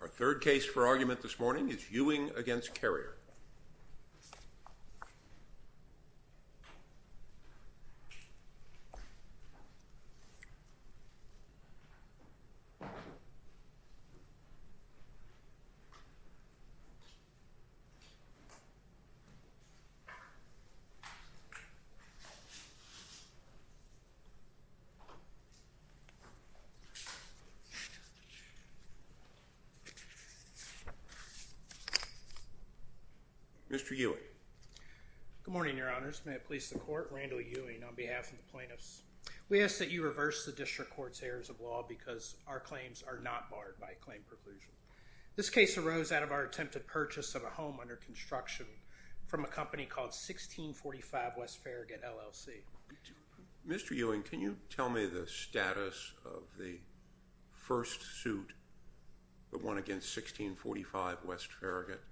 Our third case for argument this morning is Ewing v. Carrier. Mr. Ewing. Good morning, your honors. May it please the court. Randall Ewing on behalf of the plaintiffs. We ask that you reverse the district court's errors of law because our claims are not barred by claim preclusion. This case arose out of our attempted purchase of a home under construction from a company called 1645 West Farragut LLC. Mr. Ewing, can you tell me the status of the first home that was purchased? The first suit that won against 1645 West Farragut?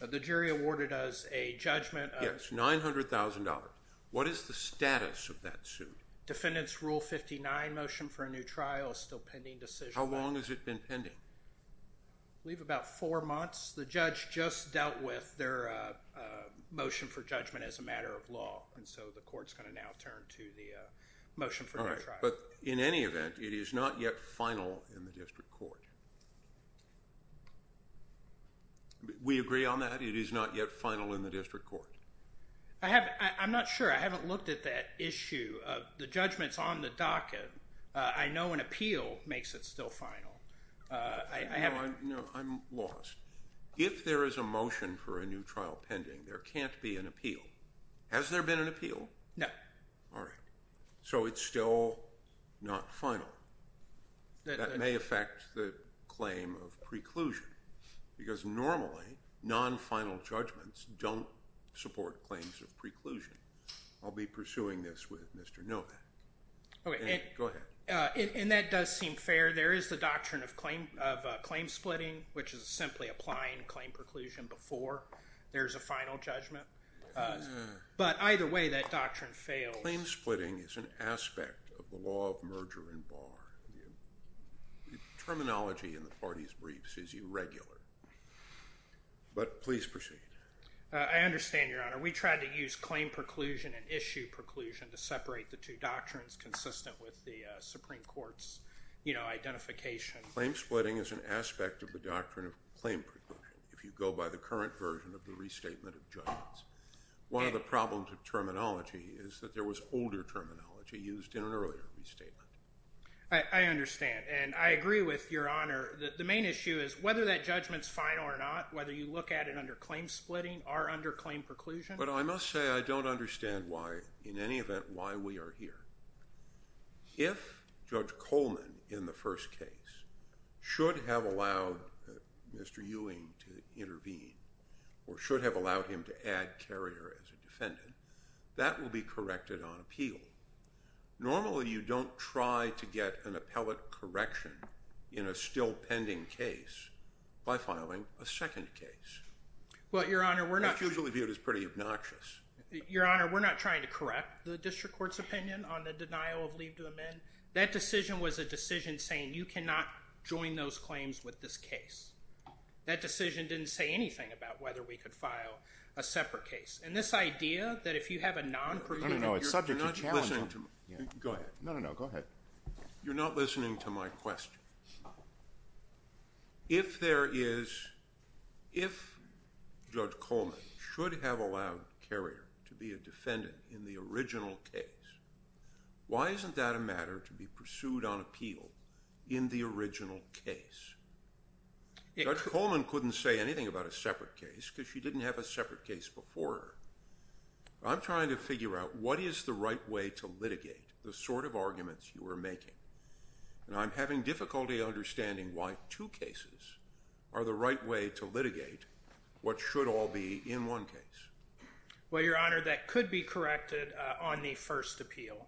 The jury awarded us a judgment of... Yes, $900,000. What is the status of that suit? Defendant's Rule 59 motion for a new trial is still pending decision. How long has it been pending? I believe about four months. The judge just dealt with their motion for judgment as a matter of law. And so the court's going to now turn to the motion for new trial. But in any event, it is not yet final in the district court. We agree on that? It is not yet final in the district court? I'm not sure. I haven't looked at that issue. The judgment's on the docket. I know an appeal makes it still final. No, I'm lost. If there is a motion for a new trial pending, there can't be an appeal. Has there been an appeal? No. So it's still not final. That may affect the claim of preclusion because normally non-final judgments don't support claims of preclusion. I'll be pursuing this with Mr. Novak. And that does seem fair. There is the doctrine of claim splitting, which is simply applying claim preclusion before there's a final judgment. But either way, that doctrine fails. Claim splitting is an aspect of the law of merger and bar. The terminology in the party's briefs is irregular. But please proceed. I understand, Your Honor. We tried to use claim preclusion and issue preclusion to separate the two doctrines consistent with the Supreme Court's identification. Claim splitting is an aspect of the doctrine of claim preclusion if you go by the current version of the restatement of judgments. One of the problems of terminology is that there was older terminology used in an earlier restatement. I understand, and I agree with Your Honor. The main issue is whether that judgment's final or not, whether you look at it under claim splitting or under claim preclusion. But I must say I don't understand why, in any event, why we are here. If Judge Coleman, in the first case, should have allowed Mr. Ewing to intervene or should have allowed him to add Carrier as a defendant, that will be corrected on appeal. Normally, you don't try to get an appellate correction in a still pending case by filing a second case. Well, Your Honor, we're not— That's usually viewed as pretty obnoxious. Your Honor, we're not trying to correct the district court's opinion on the denial of leave to amend. That decision was a decision saying you cannot join those claims with this case. That decision didn't say anything about whether we could file a separate case. And this idea that if you have a non— No, no, no. It's subject to challenge. Go ahead. No, no, no. Go ahead. You're not listening to my question. If there is—if Judge Coleman should have allowed Carrier to be a defendant in the original case, why isn't that a matter to be pursued on appeal in the original case? Judge Coleman couldn't say anything about a separate case because she didn't have a separate case before her. I'm trying to figure out what is the right way to litigate the sort of arguments you are making. And I'm having difficulty understanding why two cases are the right way to litigate what should all be in one case. Well, Your Honor, that could be corrected on the first appeal.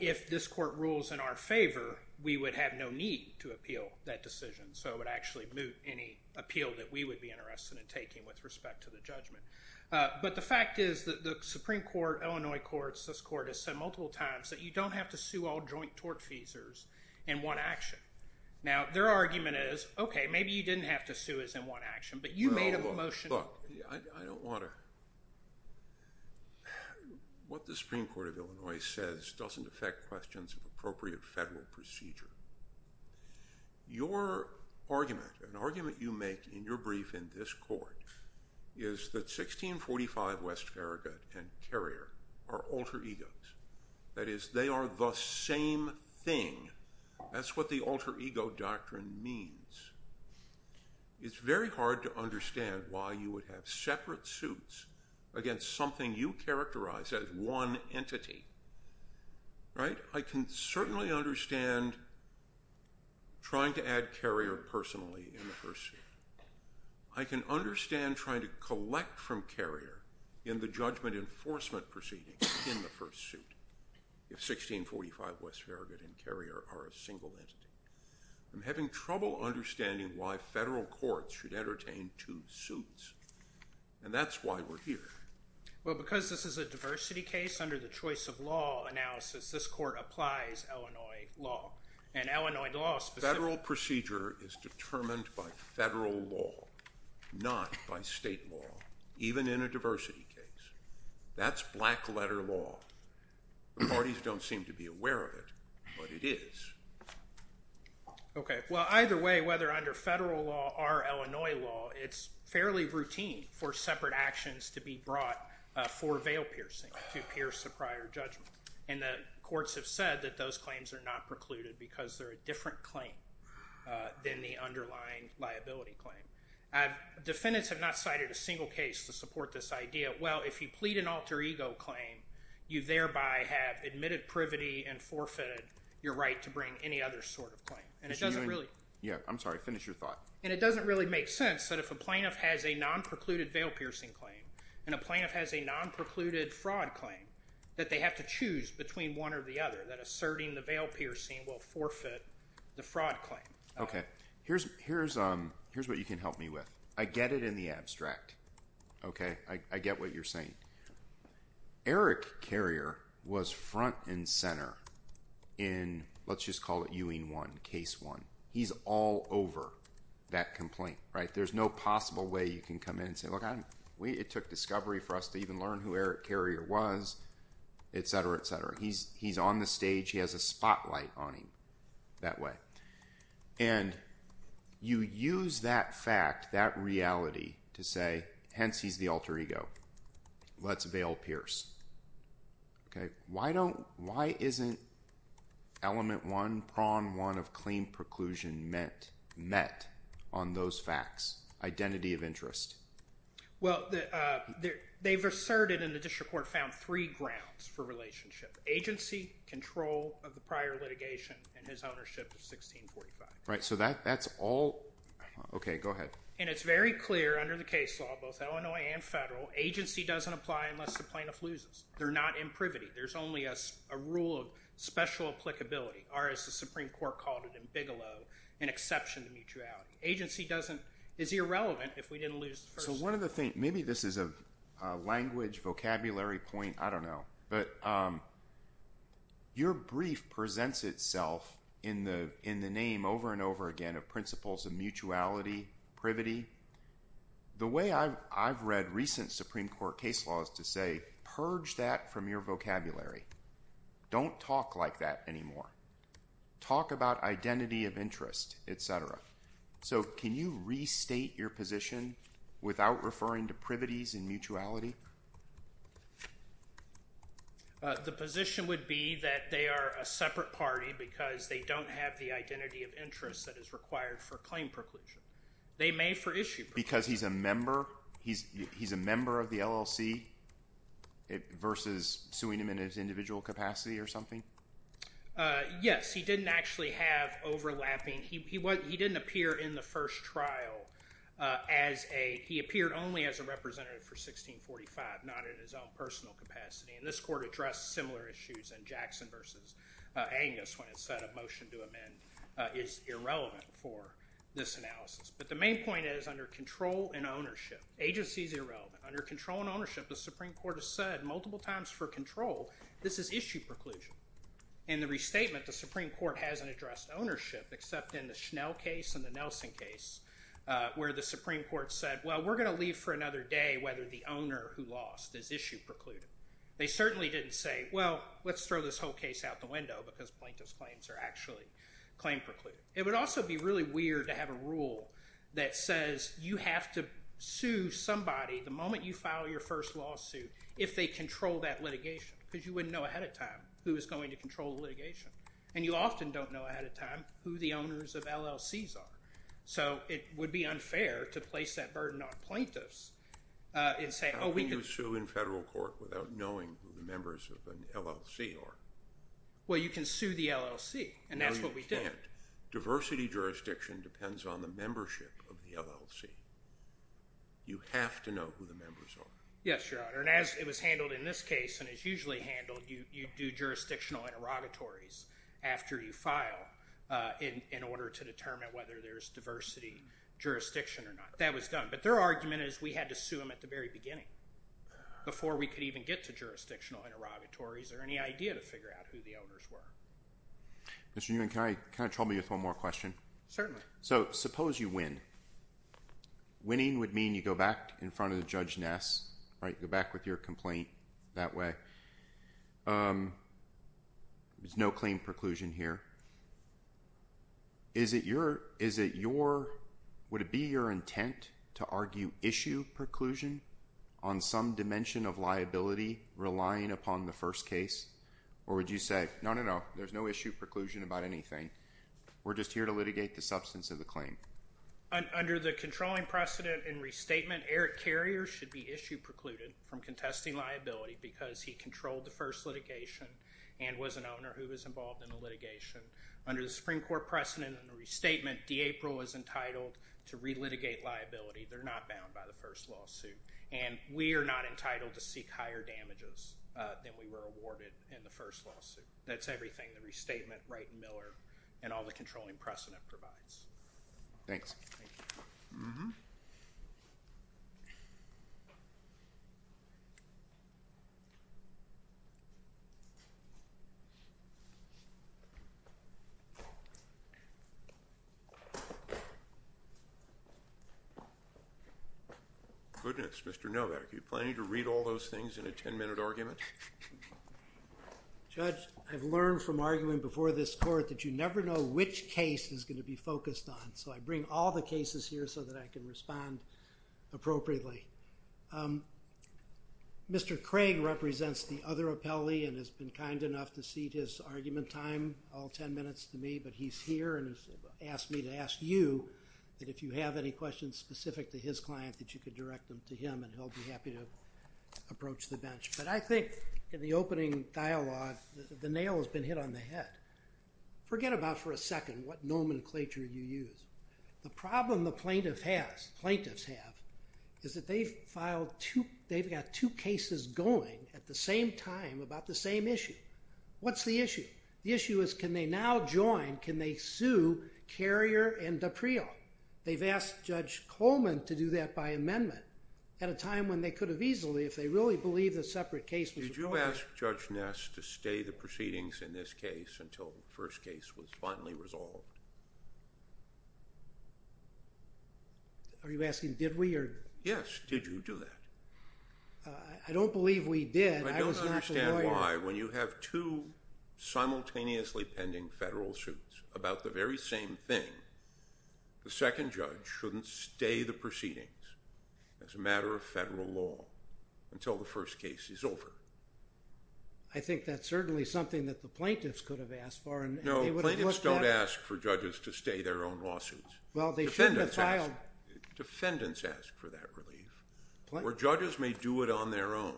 If this court rules in our favor, we would have no need to appeal that decision. So it would actually moot any appeal that we would be interested in taking with respect to the judgment. But the fact is that the Supreme Court, Illinois courts, this court has said multiple times that you don't have to sue all joint tort feasors in one action. Now, their argument is, okay, maybe you didn't have to sue us in one action, but you made a motion— Look, I don't want to—what the Supreme Court of Illinois says doesn't affect questions of appropriate federal procedure. Your argument, an argument you make in your brief in this court, is that 1645 West Farragut and Carrier are alter egos. That is, they are the same thing. That's what the alter ego doctrine means. It's very hard to understand why you would have separate suits against something you characterize as one entity. Right? I can certainly understand trying to add Carrier personally in the first suit. I can understand trying to collect from Carrier in the judgment enforcement proceedings in the first suit if 1645 West Farragut and Carrier are a single entity. I'm having trouble understanding why federal courts should entertain two suits, and that's why we're here. Well, because this is a diversity case under the choice of law analysis, this court applies Illinois law, and Illinois law— Federal procedure is determined by federal law, not by state law, even in a diversity case. That's black-letter law. The parties don't seem to be aware of it, but it is. Okay. Well, either way, whether under federal law or Illinois law, it's fairly routine for separate actions to be brought for veil piercing to pierce the prior judgment. And the courts have said that those claims are not precluded because they're a different claim than the underlying liability claim. Defendants have not cited a single case to support this idea. Well, if you plead an alter ego claim, you thereby have admitted privity and forfeited your right to bring any other sort of claim. And it doesn't really— Yeah, I'm sorry. Finish your thought. And it doesn't really make sense that if a plaintiff has a non-precluded veil piercing claim and a plaintiff has a non-precluded fraud claim, that they have to choose between one or the other, that asserting the veil piercing will forfeit the fraud claim. Okay. Here's what you can help me with. I get it in the abstract, okay? I get what you're saying. Eric Carrier was front and center in, let's just call it Ewing 1, Case 1. He's all over that complaint, right? There's no possible way you can come in and say, look, it took discovery for us to even learn who Eric Carrier was, etc., etc. He's on the stage. He has a spotlight on him that way. And you use that fact, that reality to say, hence he's the alter ego. Let's veil pierce. Why isn't element 1, prong 1 of claim preclusion met on those facts, identity of interest? Well, they've asserted and the district court found three grounds for relationship, agency, control of the prior litigation, and his ownership of 1645. Right, so that's all – okay, go ahead. And it's very clear under the case law, both Illinois and federal, agency doesn't apply unless the plaintiff loses. They're not in privity. There's only a rule of special applicability, or as the Supreme Court called it in Bigelow, an exception to mutuality. Agency is irrelevant if we didn't lose the first – So one of the things – maybe this is a language, vocabulary point, I don't know. But your brief presents itself in the name over and over again of principles of mutuality, privity. The way I've read recent Supreme Court case law is to say, purge that from your vocabulary. Don't talk like that anymore. Talk about identity of interest, et cetera. So can you restate your position without referring to privities and mutuality? The position would be that they are a separate party because they don't have the identity of interest that is required for claim preclusion. Because he's a member? He's a member of the LLC versus suing him in his individual capacity or something? Yes. He didn't actually have overlapping – he didn't appear in the first trial as a – he appeared only as a representative for 1645, not in his own personal capacity. And this court addressed similar issues in Jackson versus Angus when it said a motion to amend is irrelevant for this analysis. But the main point is under control and ownership, agency is irrelevant. Under control and ownership, the Supreme Court has said multiple times for control, this is issue preclusion. In the restatement, the Supreme Court hasn't addressed ownership except in the Schnell case and the Nelson case where the Supreme Court said, well, we're going to leave for another day whether the owner who lost is issue precluded. They certainly didn't say, well, let's throw this whole case out the window because plaintiff's claims are actually claim precluded. It would also be really weird to have a rule that says you have to sue somebody the moment you file your first lawsuit if they control that litigation because you wouldn't know ahead of time who is going to control the litigation. And you often don't know ahead of time who the owners of LLCs are. So it would be unfair to place that burden on plaintiffs and say – Can you sue in federal court without knowing who the members of an LLC are? Well, you can sue the LLC and that's what we did. No, you can't. Diversity jurisdiction depends on the membership of the LLC. You have to know who the members are. Yes, Your Honor. And as it was handled in this case and it's usually handled, you do jurisdictional interrogatories after you file in order to determine whether there's diversity jurisdiction or not. That was done. But their argument is we had to sue them at the very beginning before we could even get to jurisdictional interrogatories or any idea to figure out who the owners were. Mr. Newman, can I trouble you with one more question? Certainly. So suppose you win. Winning would mean you go back in front of Judge Ness, right, go back with your complaint that way. There's no claim preclusion here. Is it your – would it be your intent to argue issue preclusion on some dimension of liability relying upon the first case? Or would you say, no, no, no, there's no issue preclusion about anything. We're just here to litigate the substance of the claim. Under the controlling precedent and restatement, Eric Carrier should be issue precluded from contesting liability because he controlled the first litigation and was an owner who was involved in the litigation. Under the Supreme Court precedent and the restatement, D'April is entitled to relitigate liability. They're not bound by the first lawsuit. And we are not entitled to seek higher damages than we were awarded in the first lawsuit. That's everything, the restatement, Wright and Miller, and all the controlling precedent provides. Thanks. Thank you. Goodness, Mr. Novak, are you planning to read all those things in a ten-minute argument? Judge, I've learned from arguing before this court that you never know which case is going to be focused on. So I bring all the cases here so that I can respond appropriately. Mr. Craig represents the other appellee and has been kind enough to cede his argument time, all ten minutes, to me. But he's here and has asked me to ask you that if you have any questions specific to his client that you could direct them to him, and he'll be happy to approach the bench. But I think in the opening dialogue, the nail has been hit on the head. Forget about for a second what nomenclature you use. The problem the plaintiff has, plaintiffs have, is that they've got two cases going at the same time about the same issue. What's the issue? The issue is can they now join, can they sue Carrier and D'April? They've asked Judge Coleman to do that by amendment at a time when they could have easily if they really believed a separate case was required. Did you ask Judge Ness to stay the proceedings in this case until the first case was finally resolved? Are you asking did we or? Yes, did you do that? I don't believe we did. I don't understand why when you have two simultaneously pending federal suits about the very same thing, the second judge shouldn't stay the proceedings as a matter of federal law until the first case is over. I think that's certainly something that the plaintiffs could have asked for. No, plaintiffs don't ask for judges to stay their own lawsuits. Well, they shouldn't have filed. Defendants ask for that relief, where judges may do it on their own.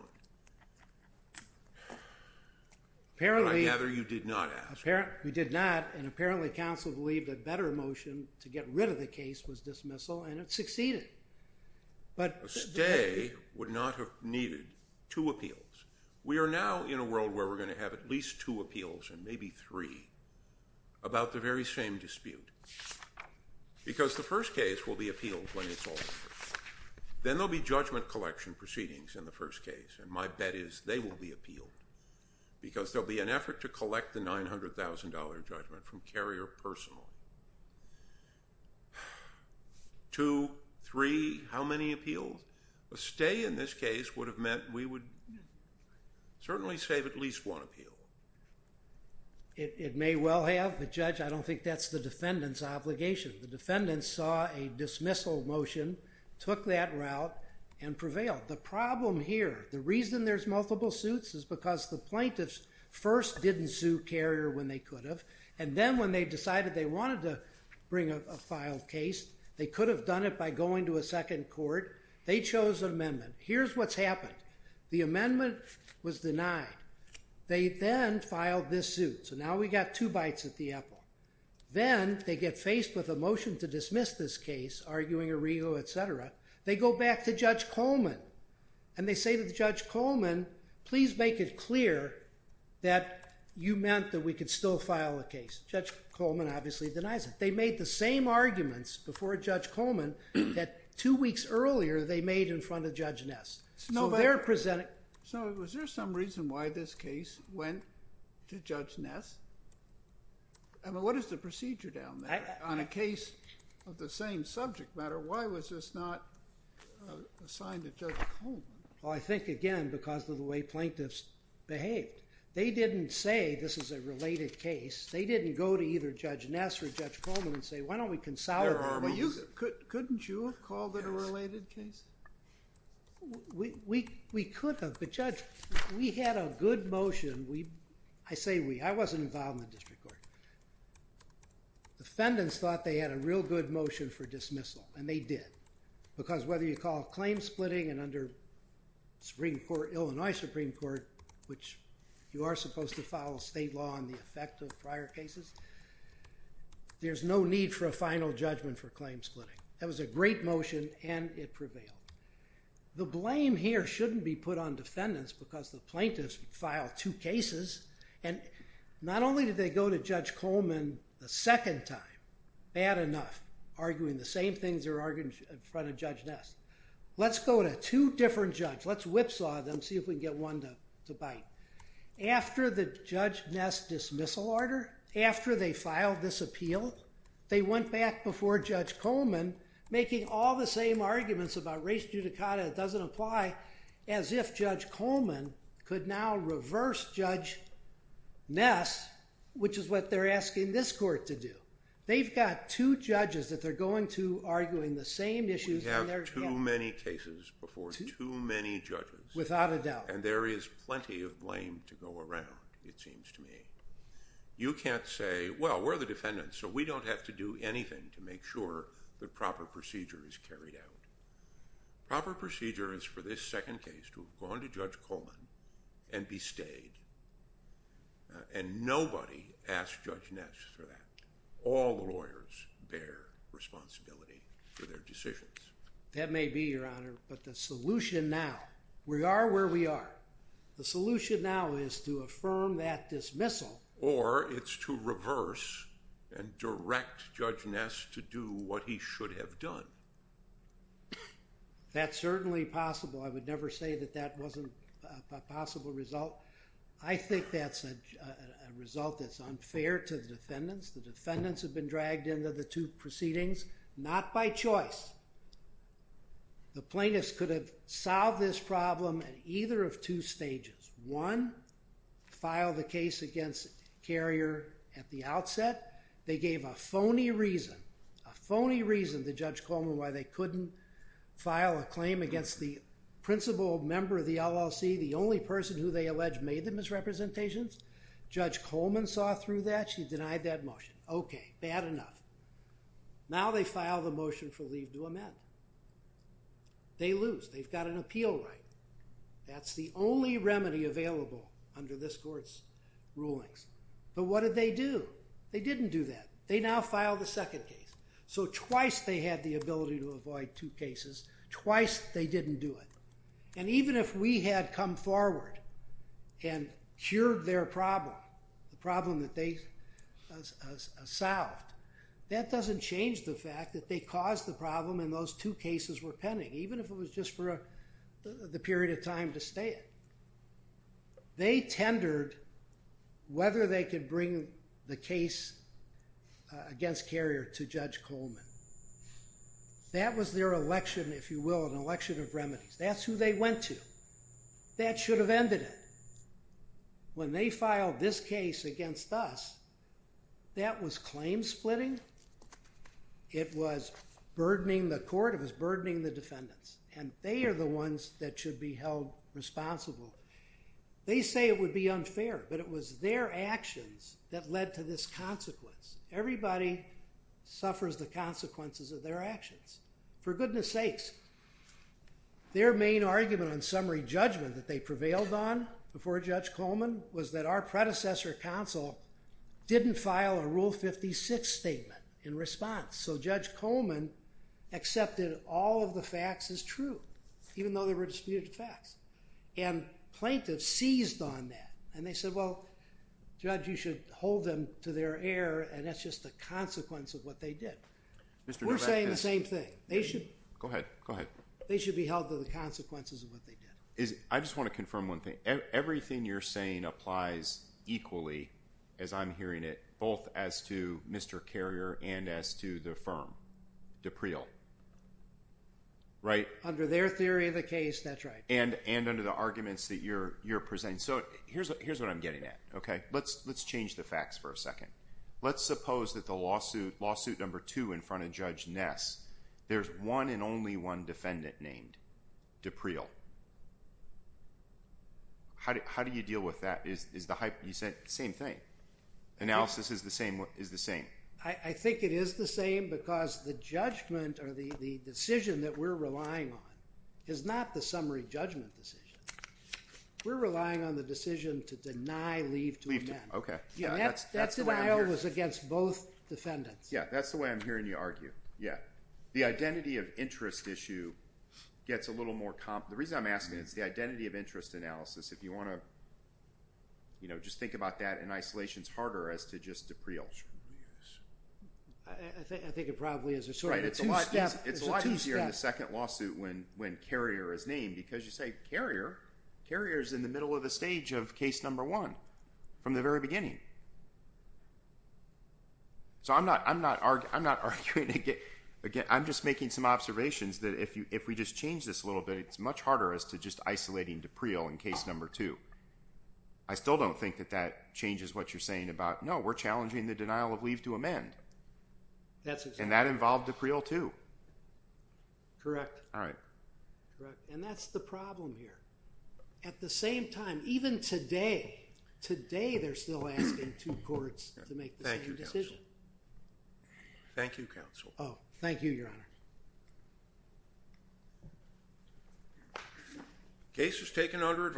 I gather you did not ask. We did not, and apparently counsel believed a better motion to get rid of the case was dismissal and it succeeded. A stay would not have needed two appeals. We are now in a world where we're going to have at least two appeals and maybe three about the very same dispute. Because the first case will be appealed when it's all over. Then there'll be judgment collection proceedings in the first case, and my bet is they will be appealed because there'll be an effort to collect the $900,000 judgment from Carrier personally. Two, three, how many appeals? A stay in this case would have meant we would certainly save at least one appeal. It may well have, but, Judge, I don't think that's the defendant's obligation. The defendant saw a dismissal motion, took that route, and prevailed. The problem here, the reason there's multiple suits is because the plaintiffs first didn't sue Carrier when they could have, and then when they decided they wanted to bring a filed case, they could have done it by going to a second court. They chose an amendment. Here's what's happened. The amendment was denied. They then filed this suit. So now we've got two bites at the apple. Then they get faced with a motion to dismiss this case, arguing Arrigo, et cetera. They go back to Judge Coleman, and they say to Judge Coleman, please make it clear that you meant that we could still file a case. Judge Coleman obviously denies it. They made the same arguments before Judge Coleman that two weeks earlier they made in front of Judge Ness. So was there some reason why this case went to Judge Ness? I mean, what is the procedure down there? On a case of the same subject matter, why was this not assigned to Judge Coleman? Well, I think, again, because of the way plaintiffs behaved. They didn't say this is a related case. They didn't go to either Judge Ness or Judge Coleman and say, why don't we consolidate? Couldn't you have called it a related case? We could have. But, Judge, we had a good motion. I say we. I wasn't involved in the district court. Defendants thought they had a real good motion for dismissal, and they did. Because whether you call a claim splitting and under Supreme Court, Illinois Supreme Court, which you are supposed to follow state law and the effect of prior cases, there's no need for a final judgment for claim splitting. That was a great motion, and it prevailed. The blame here shouldn't be put on defendants because the plaintiffs filed two cases, and not only did they go to Judge Coleman the second time, bad enough, arguing the same things they were arguing in front of Judge Ness. Let's go to two different judges. Let's whipsaw them, see if we can get one to bite. After the Judge Ness dismissal order, after they filed this appeal, they went back before Judge Coleman making all the same arguments about race judicata that doesn't apply, as if Judge Coleman could now reverse Judge Ness, which is what they're asking this court to do. They've got two judges that they're going to arguing the same issues. We have too many cases before too many judges. Without a doubt. And there is plenty of blame to go around, it seems to me. You can't say, well, we're the defendants, so we don't have to do anything to make sure that proper procedure is carried out. Proper procedure is for this second case to have gone to Judge Coleman and be stayed, and nobody asked Judge Ness for that. All the lawyers bear responsibility for their decisions. That may be, Your Honor, but the solution now, we are where we are. The solution now is to affirm that dismissal. Or it's to reverse and direct Judge Ness to do what he should have done. That's certainly possible. I would never say that that wasn't a possible result. I think that's a result that's unfair to the defendants. The defendants have been dragged into the two proceedings, not by choice. The plaintiffs could have solved this problem at either of two stages. One, file the case against Carrier at the outset. They gave a phony reason, a phony reason to Judge Coleman why they couldn't file a claim against the principal member of the LLC, the only person who they allege made the misrepresentations. Judge Coleman saw through that. She denied that motion. Okay, bad enough. Now they file the motion for leave to amend. They lose. They've got an appeal right. That's the only remedy available under this court's rulings. But what did they do? They didn't do that. They now file the second case. So twice they had the ability to avoid two cases. Twice they didn't do it. And even if we had come forward and cured their problem, the problem that they solved, that doesn't change the fact that they caused the problem and those two cases were pending, even if it was just for the period of time to stay in. They tendered whether they could bring the case against Carrier to Judge Coleman. That was their election, if you will, an election of remedies. That's who they went to. That should have ended it. When they filed this case against us, that was claim splitting. It was burdening the court. It was burdening the defendants. And they are the ones that should be held responsible. They say it would be unfair, but it was their actions that led to this consequence. Everybody suffers the consequences of their actions. For goodness sakes, their main argument on summary judgment that they prevailed on before Judge Coleman was that our predecessor counsel didn't file a Rule 56 statement in response. So Judge Coleman accepted all of the facts as true, even though there were disputed facts. And plaintiffs seized on that. And they said, well, Judge, you should hold them to their error, and that's just a consequence of what they did. We're saying the same thing. Go ahead. Go ahead. They should be held to the consequences of what they did. I just want to confirm one thing. Everything you're saying applies equally, as I'm hearing it, both as to Mr. Carrier and as to the firm, D'April. Under their theory of the case, that's right. And under the arguments that you're presenting. Let's change the facts for a second. Let's suppose that the lawsuit, lawsuit number two in front of Judge Ness, there's one and only one defendant named, D'April. How do you deal with that? You said the same thing. Analysis is the same. I think it is the same because the judgment or the decision that we're relying on is not the summary judgment decision. We're relying on the decision to deny leave to amend. Okay. That denial was against both defendants. Yeah. That's the way I'm hearing you argue. Yeah. The identity of interest issue gets a little more – the reason I'm asking is the identity of interest analysis. If you want to just think about that in isolation, it's harder as to just D'April. I think it probably is. It's sort of a two-step. It's a lot easier in the second lawsuit when Carrier is named because you say Carrier? Carrier is in the middle of the stage of case number one from the very beginning. So I'm not arguing – I'm just making some observations that if we just change this a little bit, it's much harder as to just isolating D'April in case number two. I still don't think that that changes what you're saying about, no, we're challenging the denial of leave to amend. And that involved D'April too. Correct. All right. And that's the problem here. At the same time, even today, today they're still asking two courts to make the same decision. Thank you, counsel. Thank you, counsel. Oh, thank you, Your Honor.